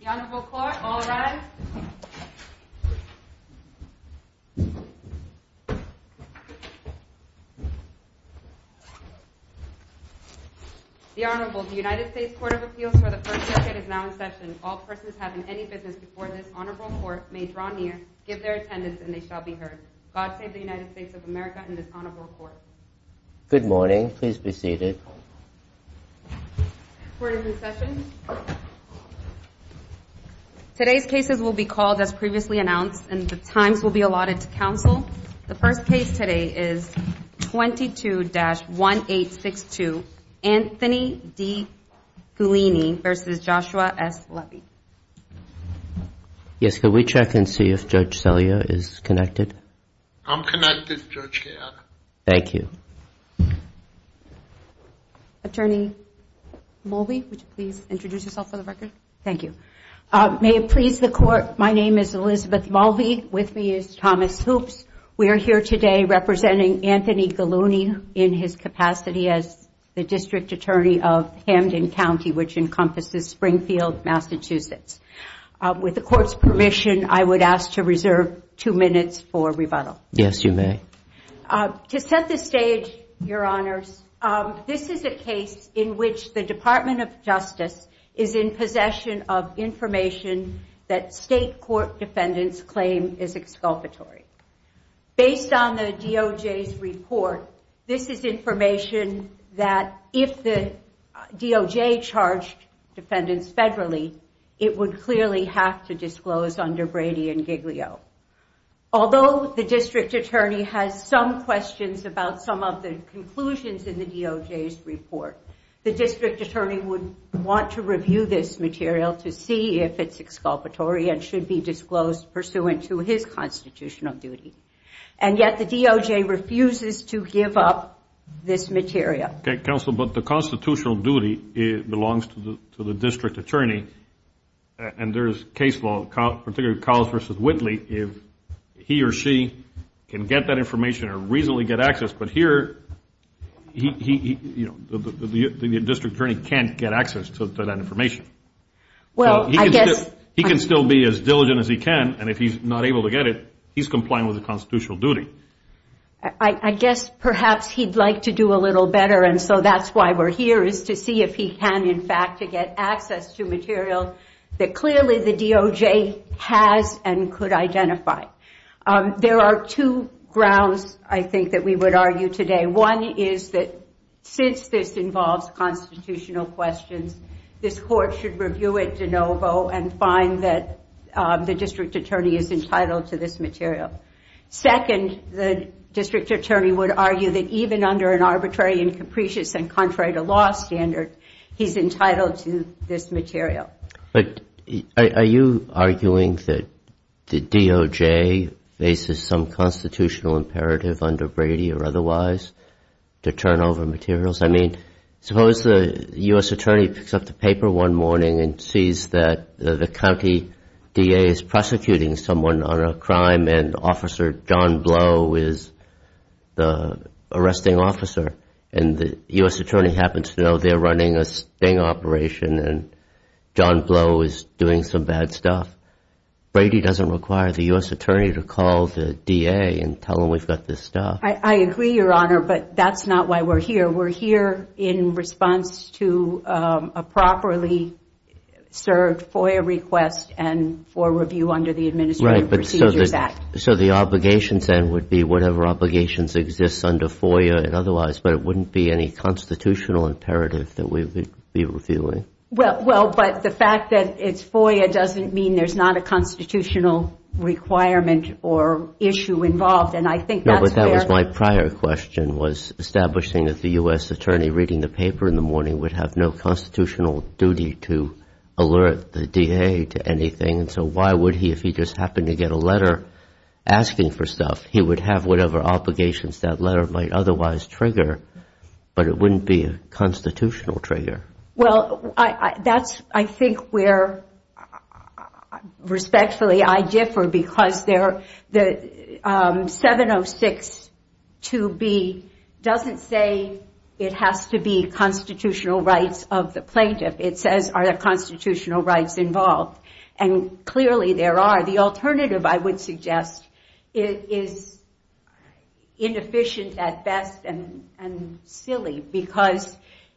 The Honorable Court, all rise. The Honorable, the United States Court of Appeals for the first decade is now in session. All persons having any business before this Honorable Court may draw near, give their attendance, and they shall be heard. God save the United States of America and this Honorable Court. Good morning. Please be seated. Court is in session. Today's cases will be called as previously announced, and the times will be allotted to counsel. The first case today is 22-1862, Anthony D. Gullini v. Joshua S. Levy. Yes, could we check and see if Judge Salia is connected? I'm connected, Judge Kayana. Thank you. Attorney Mulvey, would you please introduce yourself for the record? Thank you. May it please the Court, my name is Elizabeth Mulvey. With me is Thomas Hoops. We are here today representing Anthony Gullini in his capacity as the District Attorney of Hamden County, which encompasses Springfield, Massachusetts. With the Court's permission, I would ask to reserve two minutes for rebuttal. Yes, you may. To set the stage, Your Honors, this is a case in which the Department of Justice is in possession of information that State Court defendants claim is exculpatory. Based on the DOJ's report, this is information that if the DOJ charged defendants federally, it would clearly have to disclose under Brady and Giglio. Although the District Attorney has some questions about some of the conclusions in the DOJ's report, the District Attorney would want to review this material to see if it's exculpatory and should be disclosed pursuant to his constitutional duty. And yet the DOJ refuses to give up this material. Counsel, but the constitutional duty belongs to the District Attorney. And there is case law, particularly Collins v. Whitley, if he or she can get that information or reasonably get access. But here, the District Attorney can't get access to that information. He can still be as diligent as he can. And if he's not able to get it, he's complying with the constitutional duty. I guess perhaps he'd like to do a little better. And so that's why we're here is to see if he can, in fact, to get access to material that clearly the DOJ has and could identify. There are two grounds, I think, that we would argue today. One is that since this involves constitutional questions, this court should review it de novo and find that the District Attorney is entitled to this material. Second, the District Attorney would argue that even under an arbitrary and capricious and contrary to law standard, he's entitled to this material. But are you arguing that the DOJ faces some constitutional imperative under Brady or otherwise to turn over materials? I mean, suppose the U.S. Attorney picks up the paper one morning and sees that the county DA is prosecuting someone on a crime and Officer John Blow is the arresting officer. And the U.S. Attorney happens to know they're running a sting operation and John Blow is doing some bad stuff. Brady doesn't require the U.S. Attorney to call the DA and tell him we've got this stuff. I agree, Your Honor, but that's not why we're here. We're here in response to a properly served FOIA request and for review under the Administrative Procedures Act. So the obligations then would be whatever obligations exist under FOIA and otherwise, but it wouldn't be any constitutional imperative that we would be reviewing? Well, but the fact that it's FOIA doesn't mean there's not a constitutional requirement or issue involved. No, but that was my prior question was establishing that the U.S. Attorney reading the paper in the morning would have no constitutional duty to alert the DA to anything. And so why would he, if he just happened to get a letter asking for stuff, he would have whatever obligations that letter might otherwise trigger, but it wouldn't be a constitutional trigger? Well, that's, I think, where respectfully I differ because the 706-2B doesn't say it has to be constitutional rights of the plaintiff. It says, are there constitutional rights involved? And clearly there are. The alternative, I would suggest, is inefficient at best and silly because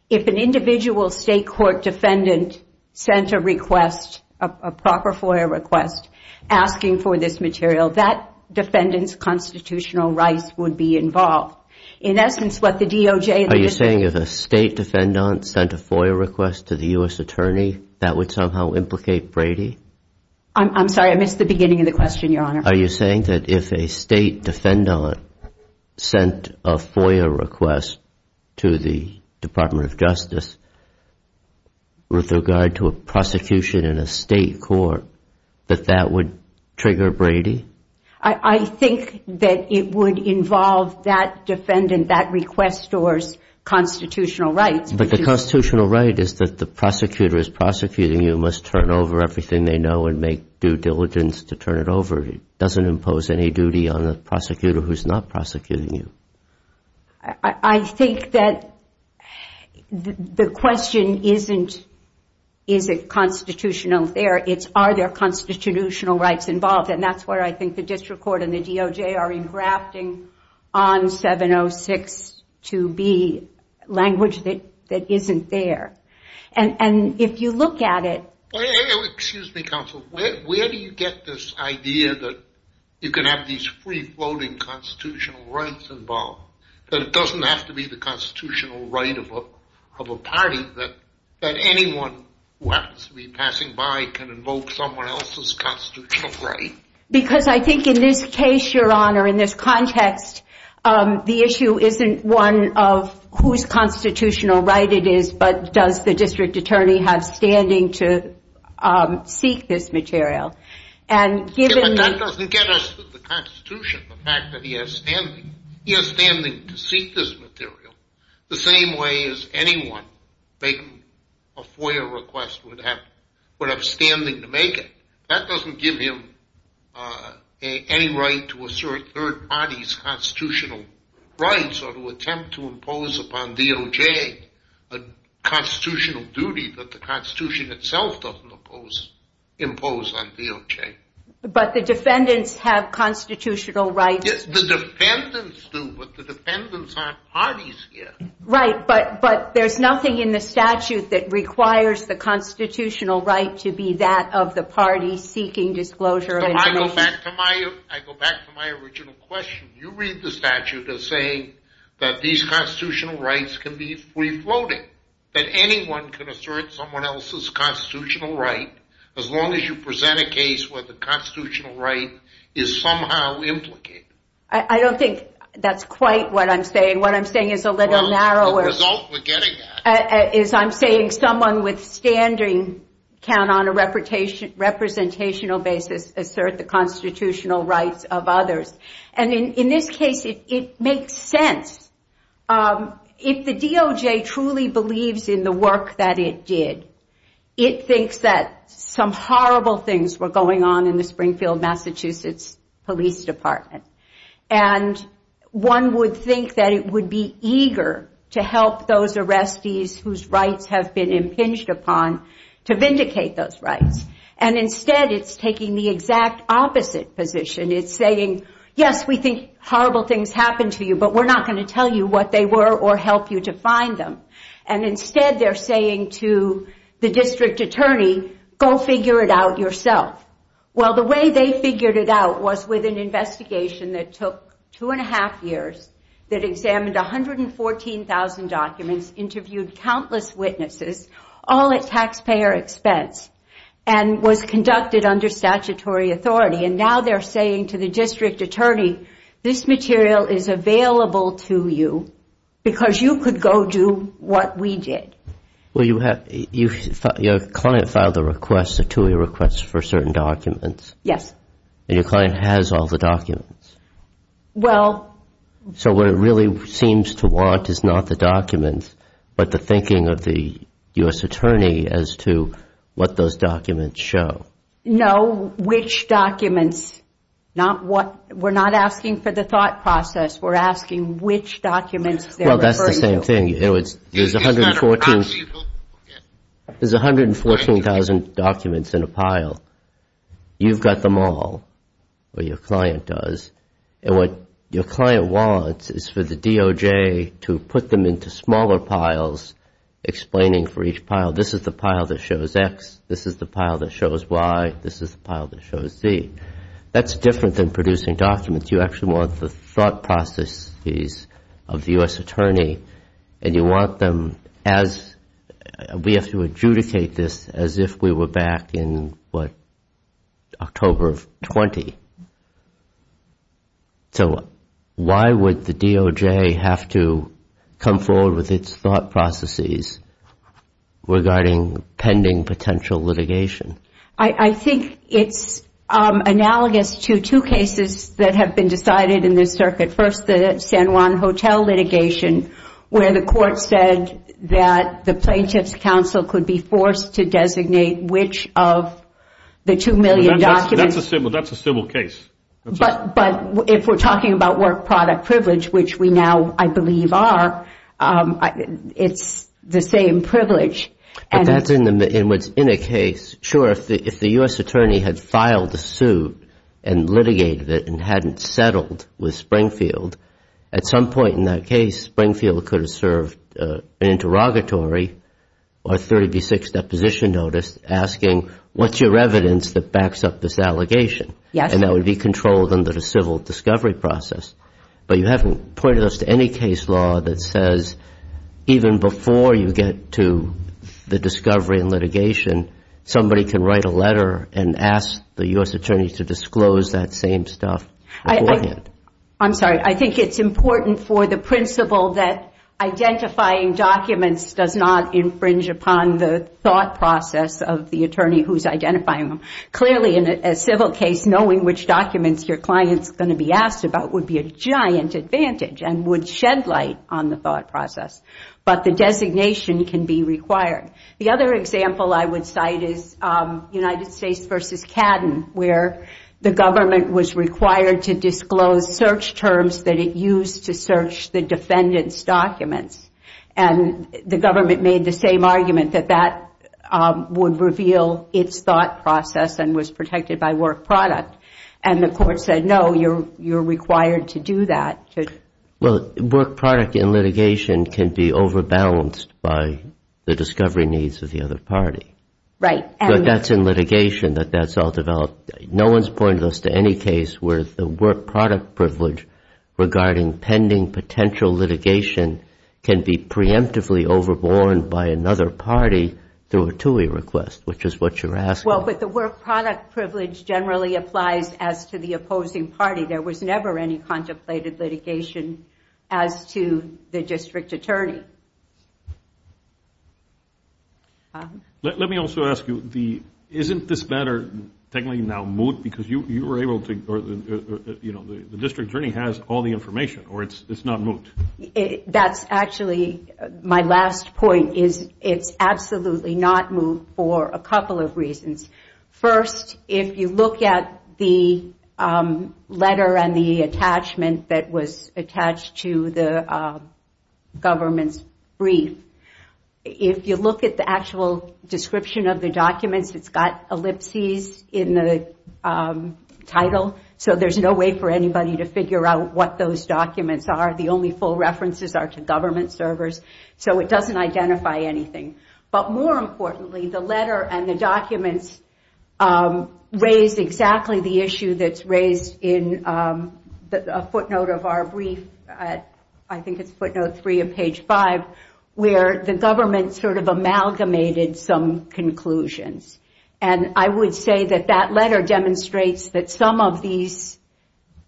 if an individual state court defendant sent a request, a proper FOIA request, asking for this material, that defendant's constitutional rights would be involved. Are you saying if a state defendant sent a FOIA request to the U.S. Attorney, that would somehow implicate Brady? I'm sorry, I missed the beginning of the question, Your Honor. Are you saying that if a state defendant sent a FOIA request to the Department of Justice with regard to a prosecution in a state court, that that would trigger Brady? I think that it would involve that defendant, that requestor's constitutional rights. But the constitutional right is that the prosecutor is prosecuting you, must turn over everything they know and make due diligence to turn it over. It doesn't impose any duty on the prosecutor who's not prosecuting you. I think that the question isn't, is it constitutional there? It's, are there constitutional rights involved? And that's where I think the district court and the DOJ are engrafting on 706-2B language that isn't there. And if you look at it... Excuse me, counsel, where do you get this idea that you can have these free-floating constitutional rights involved? That it doesn't have to be the constitutional right of a party, that anyone who happens to be passing by can invoke someone else's constitutional right? Because I think in this case, Your Honor, in this context, the issue isn't one of whose constitutional right it is, but does the district attorney have standing to seek this material? That doesn't get us to the Constitution, the fact that he has standing. He has standing to seek this material the same way as anyone making a FOIA request would have standing to make it. That doesn't give him any right to assert third parties' constitutional rights or to attempt to impose upon DOJ a constitutional duty that the Constitution itself doesn't impose on DOJ. But the defendants have constitutional rights. The defendants do, but the defendants aren't parties here. Right, but there's nothing in the statute that requires the constitutional right to be that of the party seeking disclosure of information. I go back to my original question. You read the statute as saying that these constitutional rights can be free-floating, that anyone can assert someone else's constitutional right as long as you present a case where the constitutional right is somehow implicated. I don't think that's quite what I'm saying. What I'm saying is a little narrower. I'm saying someone with standing can, on a representational basis, assert the constitutional rights of others. In this case, it makes sense. If the DOJ truly believes in the work that it did, it thinks that some horrible things were going on in the Springfield, Massachusetts Police Department. One would think that it would be eager to help those arrestees whose rights have been impinged upon to vindicate those rights. Instead, it's taking the exact opposite position. It's saying, yes, we think horrible things happened to you, but we're not going to tell you what they were or help you to find them. Instead, they're saying to the district attorney, go figure it out yourself. Well, the way they figured it out was with an investigation that took two and a half years that examined 114,000 documents, interviewed countless witnesses, all at taxpayer expense, and was conducted under statutory authority. And now they're saying to the district attorney, this material is available to you because you could go do what we did. Well, your client filed a request, a two-year request for certain documents. Yes. And your client has all the documents. Well. So what it really seems to want is not the documents, but the thinking of the U.S. attorney as to what those documents show. No, which documents. We're not asking for the thought process. We're asking which documents they're referring to. Well, that's the same thing. There's 114,000 documents in a pile. You've got them all, or your client does. And what your client wants is for the DOJ to put them into smaller piles, explaining for each pile, this is the pile that shows X, this is the pile that shows Y, this is the pile that shows Z. That's different than producing documents. You actually want the thought processes of the U.S. attorney, and you want them as we have to adjudicate this as if we were back in, what, October of 20. So why would the DOJ have to come forward with its thought processes regarding pending potential litigation? I think it's analogous to two cases that have been decided in this circuit. First, the San Juan Hotel litigation, where the court said that the plaintiff's counsel could be forced to designate which of the two million documents. That's a civil case. But if we're talking about work product privilege, which we now, I believe, are, it's the same privilege. But that's in a case. Sure, if the U.S. attorney had filed a suit and litigated it and hadn't settled with Springfield, at some point in that case, Springfield could have served an interrogatory or 30B6 deposition notice asking, what's your evidence that backs up this allegation? Yes. And that would be controlled under the civil discovery process. But you haven't pointed us to any case law that says even before you get to the discovery and litigation, somebody can write a letter and ask the U.S. attorney to disclose that same stuff beforehand. I'm sorry. I think it's important for the principle that identifying documents does not infringe upon the thought process of the attorney who's identifying them. Clearly, in a civil case, knowing which documents your client's going to be asked about would be a giant advantage and would shed light on the thought process. But the designation can be required. The other example I would cite is United States v. Cadden, where the government was required to disclose search terms and the government made the same argument that that would reveal its thought process and was protected by work product. And the court said, no, you're required to do that. Well, work product in litigation can be overbalanced by the discovery needs of the other party. Right. But that's in litigation that that's all developed. No one's pointed us to any case where the work product privilege regarding pending potential litigation can be preemptively overborne by another party through a TUI request, which is what you're asking. Well, but the work product privilege generally applies as to the opposing party. There was never any contemplated litigation as to the district attorney. Let me also ask you, isn't this matter technically now moot because you were able to, you know, the district attorney has all the information or it's not moot? That's actually my last point is it's absolutely not moot for a couple of reasons. First, if you look at the letter and the attachment that was attached to the government's brief, if you look at the actual description of the documents, it's got ellipses in the title, so there's no way for anybody to figure out what those documents are. The only full references are to government servers, so it doesn't identify anything. But more importantly, the letter and the documents raise exactly the issue that's raised in a footnote of our brief, I think it's footnote three of page five, where the government sort of amalgamated some conclusions. And I would say that that letter demonstrates that some of these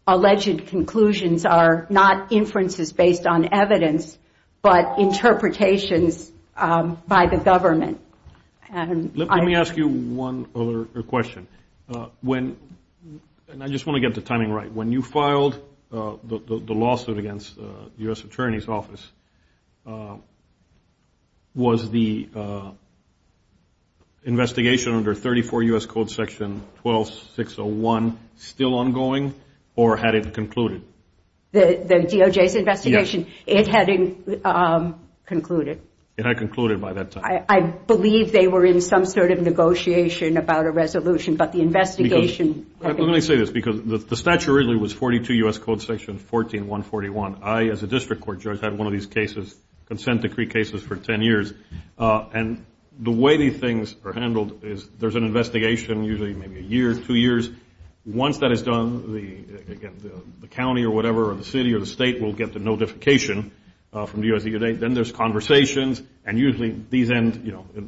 alleged conclusions are not inferences based on evidence, but interpretations by the government. Let me ask you one other question. And I just want to get the timing right. When you filed the lawsuit against the U.S. Attorney's Office, was the investigation under 34 U.S. Code section 12601 still ongoing or had it concluded? The DOJ's investigation, it had concluded. It had concluded by that time. I believe they were in some sort of negotiation about a resolution, but the investigation... Let me say this, because the statute originally was 42 U.S. Code section 14141. I, as a district court judge, had one of these consent decree cases for 10 years. And the way these things are handled is there's an investigation, usually maybe a year, two years. Once that is done, the county or whatever or the city or the state will get the notification from the U.S. EPA. Then there's conversations, and usually these end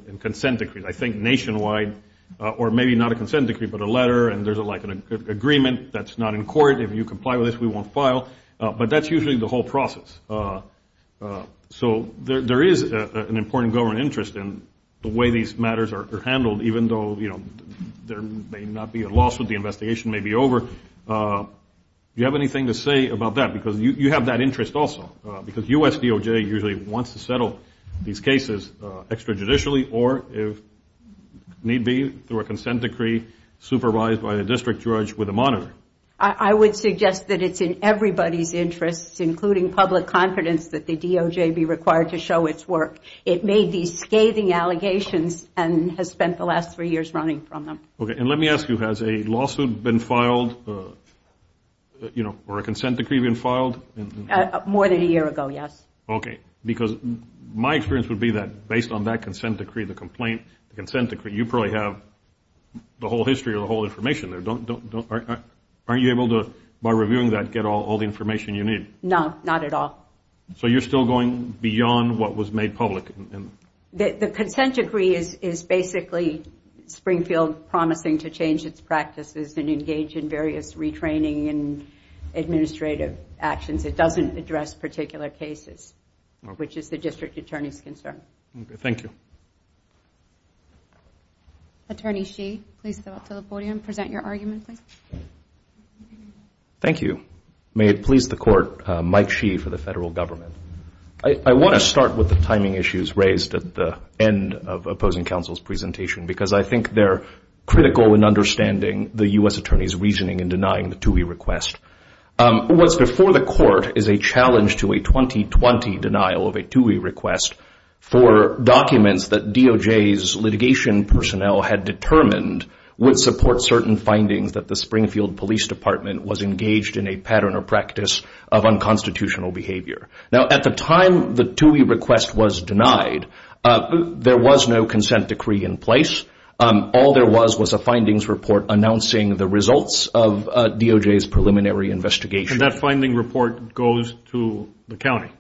in consent decrees, I think nationwide, or maybe not a consent decree but a letter, and there's like an agreement that's not in court. If you comply with this, we won't file. But that's usually the whole process. So there is an important government interest in the way these matters are handled, even though, you know, there may not be a lawsuit, the investigation may be over. Do you have anything to say about that? Because you have that interest also. Because U.S. DOJ usually wants to settle these cases extrajudicially or, if need be, through a consent decree supervised by the district judge with a monitor. I would suggest that it's in everybody's interest, including public confidence, that the DOJ be required to show its work. It made these scathing allegations and has spent the last three years running from them. Okay. And let me ask you, has a lawsuit been filed, you know, or a consent decree been filed? More than a year ago, yes. Okay. Because my experience would be that based on that consent decree, the complaint, the consent decree, you probably have the whole history or the whole information there. Aren't you able to, by reviewing that, get all the information you need? No, not at all. So you're still going beyond what was made public? The consent decree is basically Springfield promising to change its practices and engage in various retraining and administrative actions. It doesn't address particular cases, which is the district attorney's concern. Okay. Thank you. Attorney Shee, please step up to the podium. Present your argument, please. Thank you. May it please the Court, Mike Shee for the Federal Government. I want to start with the timing issues raised at the end of opposing counsel's presentation because I think they're critical in understanding the U.S. Attorney's reasoning in denying the TUI request. What's before the Court is a challenge to a 2020 denial of a TUI request for documents that DOJ's litigation personnel had determined would support certain findings that the Springfield Police Department was engaged in a pattern or practice of unconstitutional behavior. Now, at the time the TUI request was denied, there was no consent decree in place. All there was was a findings report announcing the results of DOJ's preliminary investigation. And that finding report goes to the county?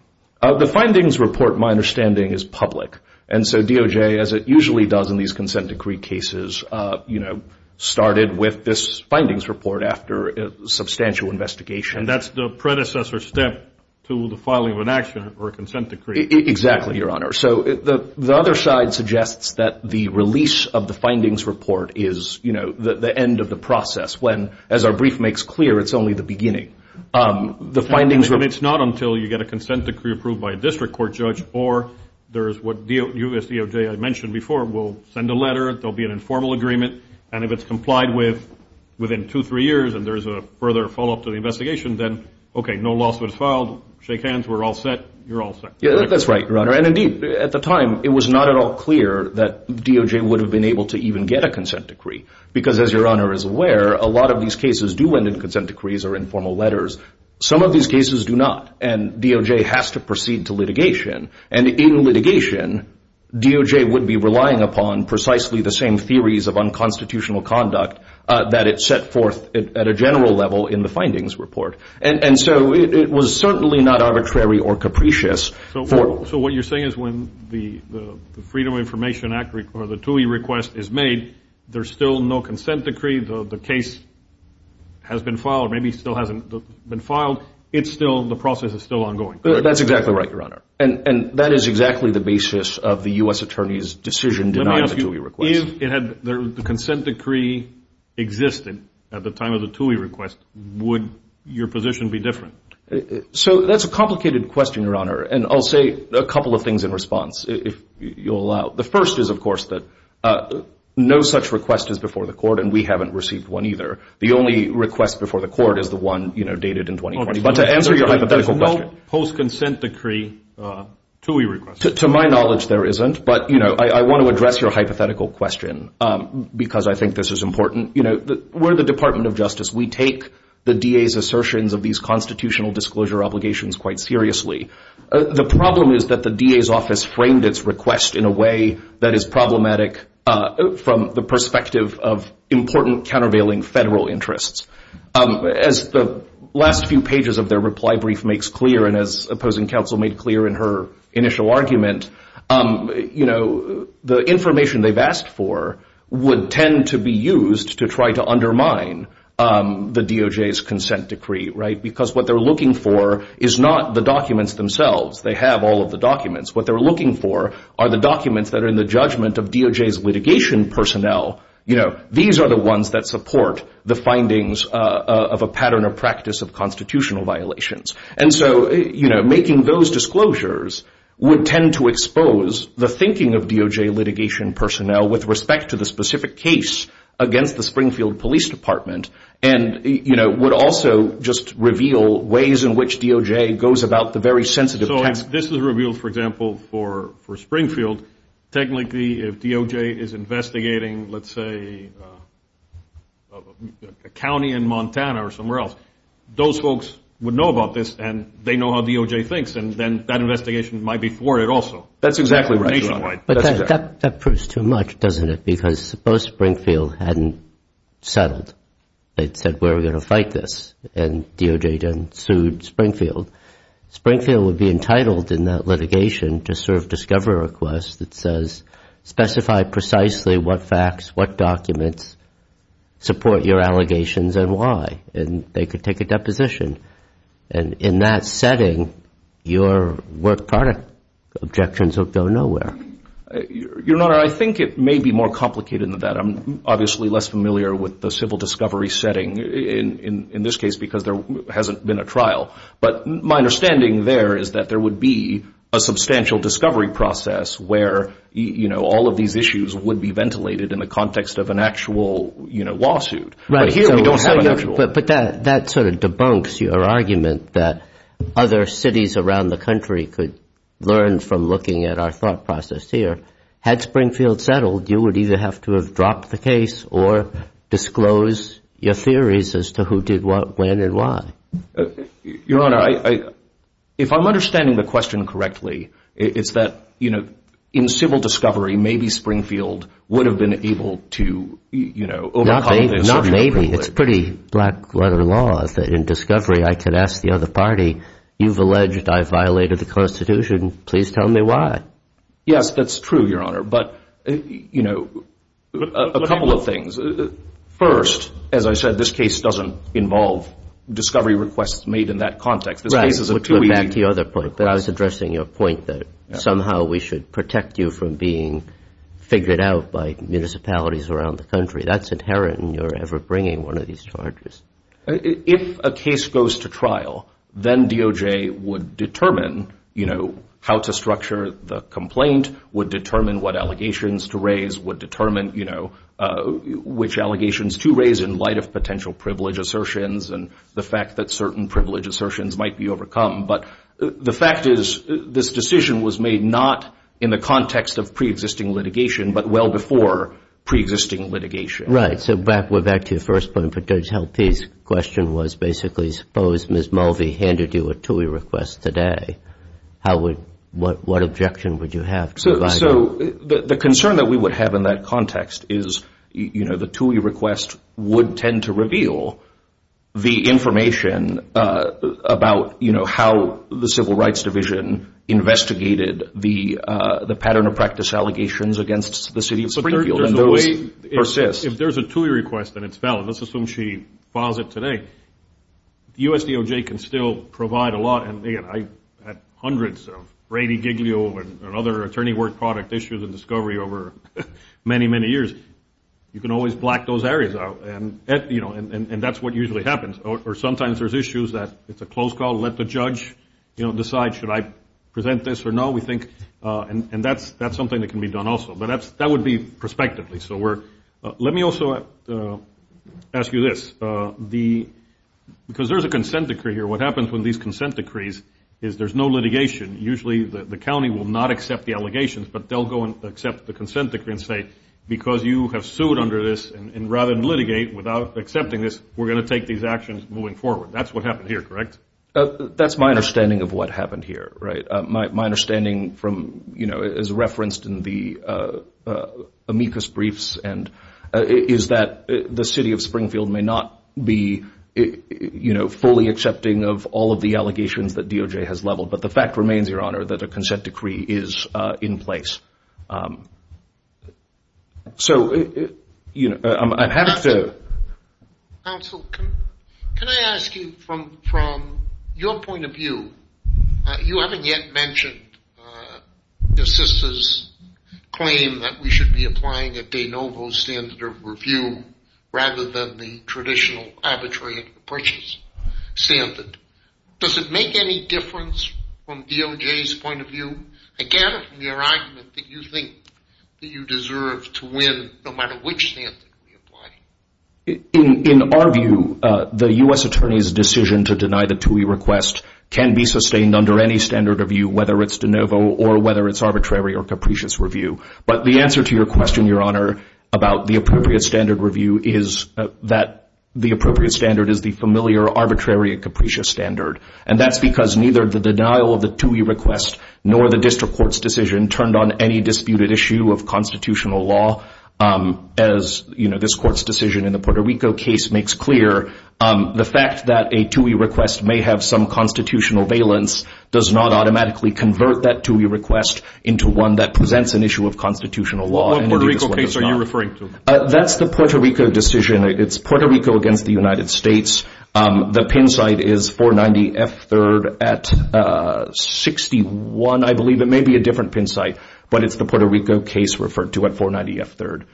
The findings report, my understanding, is public. And so DOJ, as it usually does in these consent decree cases, started with this findings report after a substantial investigation. And that's the predecessor step to the filing of an action or a consent decree. Exactly, Your Honor. So the other side suggests that the release of the findings report is the end of the process when, as our brief makes clear, it's only the beginning. It's not until you get a consent decree approved by a district court judge or there is what U.S. DOJ, I mentioned before, will send a letter. There will be an informal agreement. And if it's complied with within two or three years and there is a further follow-up to the investigation, then, okay, no lawsuit is filed. Shake hands. We're all set. You're all set. That's right, Your Honor. And, indeed, at the time, it was not at all clear that DOJ would have been able to even get a consent decree because, as Your Honor is aware, a lot of these cases do end in consent decrees or informal letters. Some of these cases do not, and DOJ has to proceed to litigation. And in litigation, DOJ would be relying upon precisely the same theories of unconstitutional conduct that it set forth at a general level in the findings report. And so it was certainly not arbitrary or capricious. So what you're saying is when the Freedom of Information Act or the TUI request is made, there's still no consent decree. The case has been filed or maybe still hasn't been filed. The process is still ongoing. That's exactly right, Your Honor. And that is exactly the basis of the U.S. Attorney's decision denying the TUI request. If the consent decree existed at the time of the TUI request, would your position be different? So that's a complicated question, Your Honor, and I'll say a couple of things in response, if you'll allow. The first is, of course, that no such request is before the court, and we haven't received one either. The only request before the court is the one, you know, dated in 2020. But to answer your hypothetical question. There's no post-consent decree TUI request. To my knowledge, there isn't. But, you know, I want to address your hypothetical question because I think this is important. You know, we're the Department of Justice. We take the DA's assertions of these constitutional disclosure obligations quite seriously. The problem is that the DA's office framed its request in a way that is problematic from the perspective of important, countervailing federal interests. As the last few pages of their reply brief makes clear, and as opposing counsel made clear in her initial argument, you know, the information they've asked for would tend to be used to try to undermine the DOJ's consent decree, right? Because what they're looking for is not the documents themselves. They have all of the documents. What they're looking for are the documents that are in the judgment of DOJ's litigation personnel. You know, these are the ones that support the findings of a pattern of practice of constitutional violations. And so, you know, making those disclosures would tend to expose the thinking of DOJ litigation personnel with respect to the specific case against the Springfield Police Department and, you know, would also just reveal ways in which DOJ goes about the very sensitive task. This is revealed, for example, for Springfield. Technically, if DOJ is investigating, let's say, a county in Montana or somewhere else, those folks would know about this, and they know how DOJ thinks, and then that investigation might be thwarted also. That's exactly right. Nationwide. But that proves too much, doesn't it? Because suppose Springfield hadn't settled. They'd said, we're going to fight this, and DOJ then sued Springfield. Springfield would be entitled in that litigation to sort of discover a request that says, specify precisely what facts, what documents support your allegations and why, and they could take a deposition. And in that setting, your work product objections would go nowhere. Your Honor, I think it may be more complicated than that. I'm obviously less familiar with the civil discovery setting in this case because there hasn't been a trial. But my understanding there is that there would be a substantial discovery process where, you know, all of these issues would be ventilated in the context of an actual, you know, lawsuit. But here we don't have an actual. But that sort of debunks your argument that other cities around the country could learn from looking at our thought process here. Had Springfield settled, you would either have to have dropped the case or disclose your theories as to who did what, when, and why. Your Honor, if I'm understanding the question correctly, it's that, you know, in civil discovery, maybe Springfield would have been able to, you know, overcome this. Not maybe. It's pretty black-letter law that in discovery I could ask the other party, you've alleged I violated the Constitution. Please tell me why. Yes, that's true, Your Honor. But, you know, a couple of things. First, as I said, this case doesn't involve discovery requests made in that context. This case is a two-way request. Right. But back to your other point. I was addressing your point that somehow we should protect you from being figured out by municipalities around the country. That's inherent in your ever bringing one of these charges. If a case goes to trial, then DOJ would determine, you know, how to structure the complaint, would determine what allegations to raise, would determine, you know, which allegations to raise in light of potential privilege assertions and the fact that certain privilege assertions might be overcome. But the fact is this decision was made not in the context of preexisting litigation but well before preexisting litigation. Right. So, Brad, we're back to your first point. But Judge Helpe's question was basically suppose Ms. Mulvey handed you a two-way request today. What objection would you have? So the concern that we would have in that context is, you know, the two-way request would tend to reveal the information about, you know, how the Civil Rights Division investigated the pattern of practice allegations against the city of Springfield. If there's a two-way request and it's valid, let's assume she files it today, the USDOJ can still provide a lot and, again, I had hundreds of Brady Giglio and other attorney work product issues and discovery over many, many years. You can always black those areas out and, you know, and that's what usually happens. Or sometimes there's issues that it's a close call, let the judge, you know, decide should I present this or no. And that's something that can be done also. But that would be prospectively. So let me also ask you this. Because there's a consent decree here, what happens when these consent decrees is there's no litigation. Usually the county will not accept the allegations, but they'll go and accept the consent decree and say, because you have sued under this and rather than litigate without accepting this, we're going to take these actions moving forward. That's what happened here, correct? That's my understanding of what happened here, right. My understanding from, you know, as referenced in the amicus briefs and is that the city of Springfield may not be, you know, fully accepting of all of the allegations that DOJ has leveled. But the fact remains, Your Honor, that a consent decree is in place. So, you know, I'm having to. Counsel, can I ask you from your point of view, you haven't yet mentioned your sister's claim that we should be applying a de novo standard of review rather than the traditional arbitrary purchase standard. Does it make any difference from DOJ's point of view? I gather from your argument that you think that you deserve to win no matter which standard we apply. In our view, the U.S. Attorney's decision to deny the TUI request can be sustained under any standard of view, whether it's de novo or whether it's arbitrary or capricious review. But the answer to your question, Your Honor, about the appropriate standard review is that the appropriate standard is the familiar arbitrary and capricious standard. And that's because neither the denial of the TUI request nor the district court's decision turned on any disputed issue of constitutional law. As this court's decision in the Puerto Rico case makes clear, the fact that a TUI request may have some constitutional valence does not automatically convert that TUI request into one that presents an issue of constitutional law. What Puerto Rico case are you referring to? That's the Puerto Rico decision. It's Puerto Rico against the United States. The pin site is 490F3rd at 61, I believe. It may be a different pin site, but it's the Puerto Rico case referred to at 490F3rd.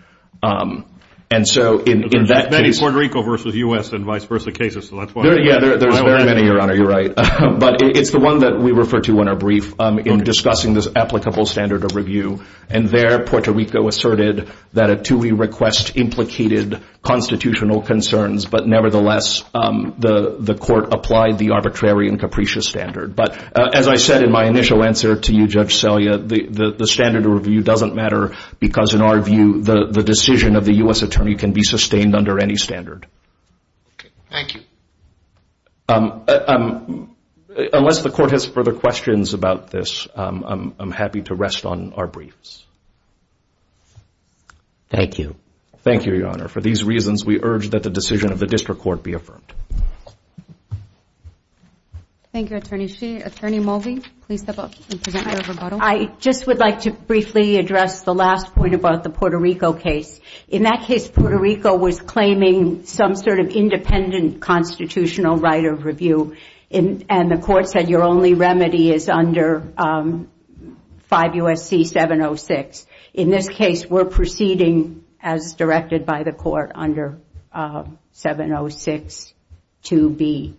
And so in that case... There's many Puerto Rico versus U.S. and vice versa cases, so that's why... Yeah, there's very many, Your Honor. You're right. But it's the one that we refer to in our brief in discussing this applicable standard of review. And there, Puerto Rico asserted that a TUI request implicated constitutional concerns, but nevertheless the court applied the arbitrary and capricious standard. But as I said in my initial answer to you, Judge Selya, the standard of review doesn't matter because, in our view, the decision of the U.S. attorney can be sustained under any standard. Thank you. Unless the court has further questions about this, I'm happy to rest on our briefs. Thank you. Thank you, Your Honor. For these reasons, we urge that the decision of the district court be affirmed. Thank you, Attorney Sheehan. Attorney Mulvey, please step up and present your rebuttal. I just would like to briefly address the last point about the Puerto Rico case. In that case, Puerto Rico was claiming some sort of independent constitutional right of review, and the court said your only remedy is under 5 U.S.C. 706. In this case, we're proceeding as directed by the court under 706 2B,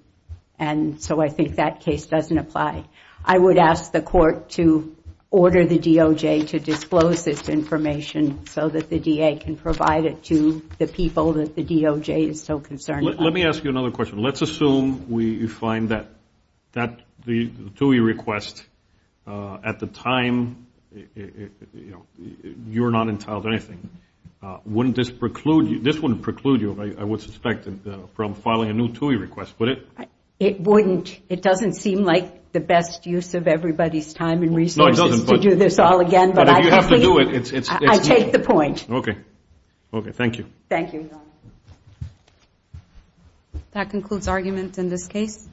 and so I think that case doesn't apply. I would ask the court to order the DOJ to disclose this information so that the DA can provide it to the people that the DOJ is so concerned about. Let me ask you another question. Let's assume we find that the TUI request at the time you're not entitled to anything. Wouldn't this preclude you? This wouldn't preclude you, I would suspect, from filing a new TUI request, would it? It wouldn't. It doesn't seem like the best use of everybody's time and resources to do this all again. But if you have to do it, it's me. I take the point. Okay. Okay, thank you. Thank you, Your Honor. That concludes arguments in this case.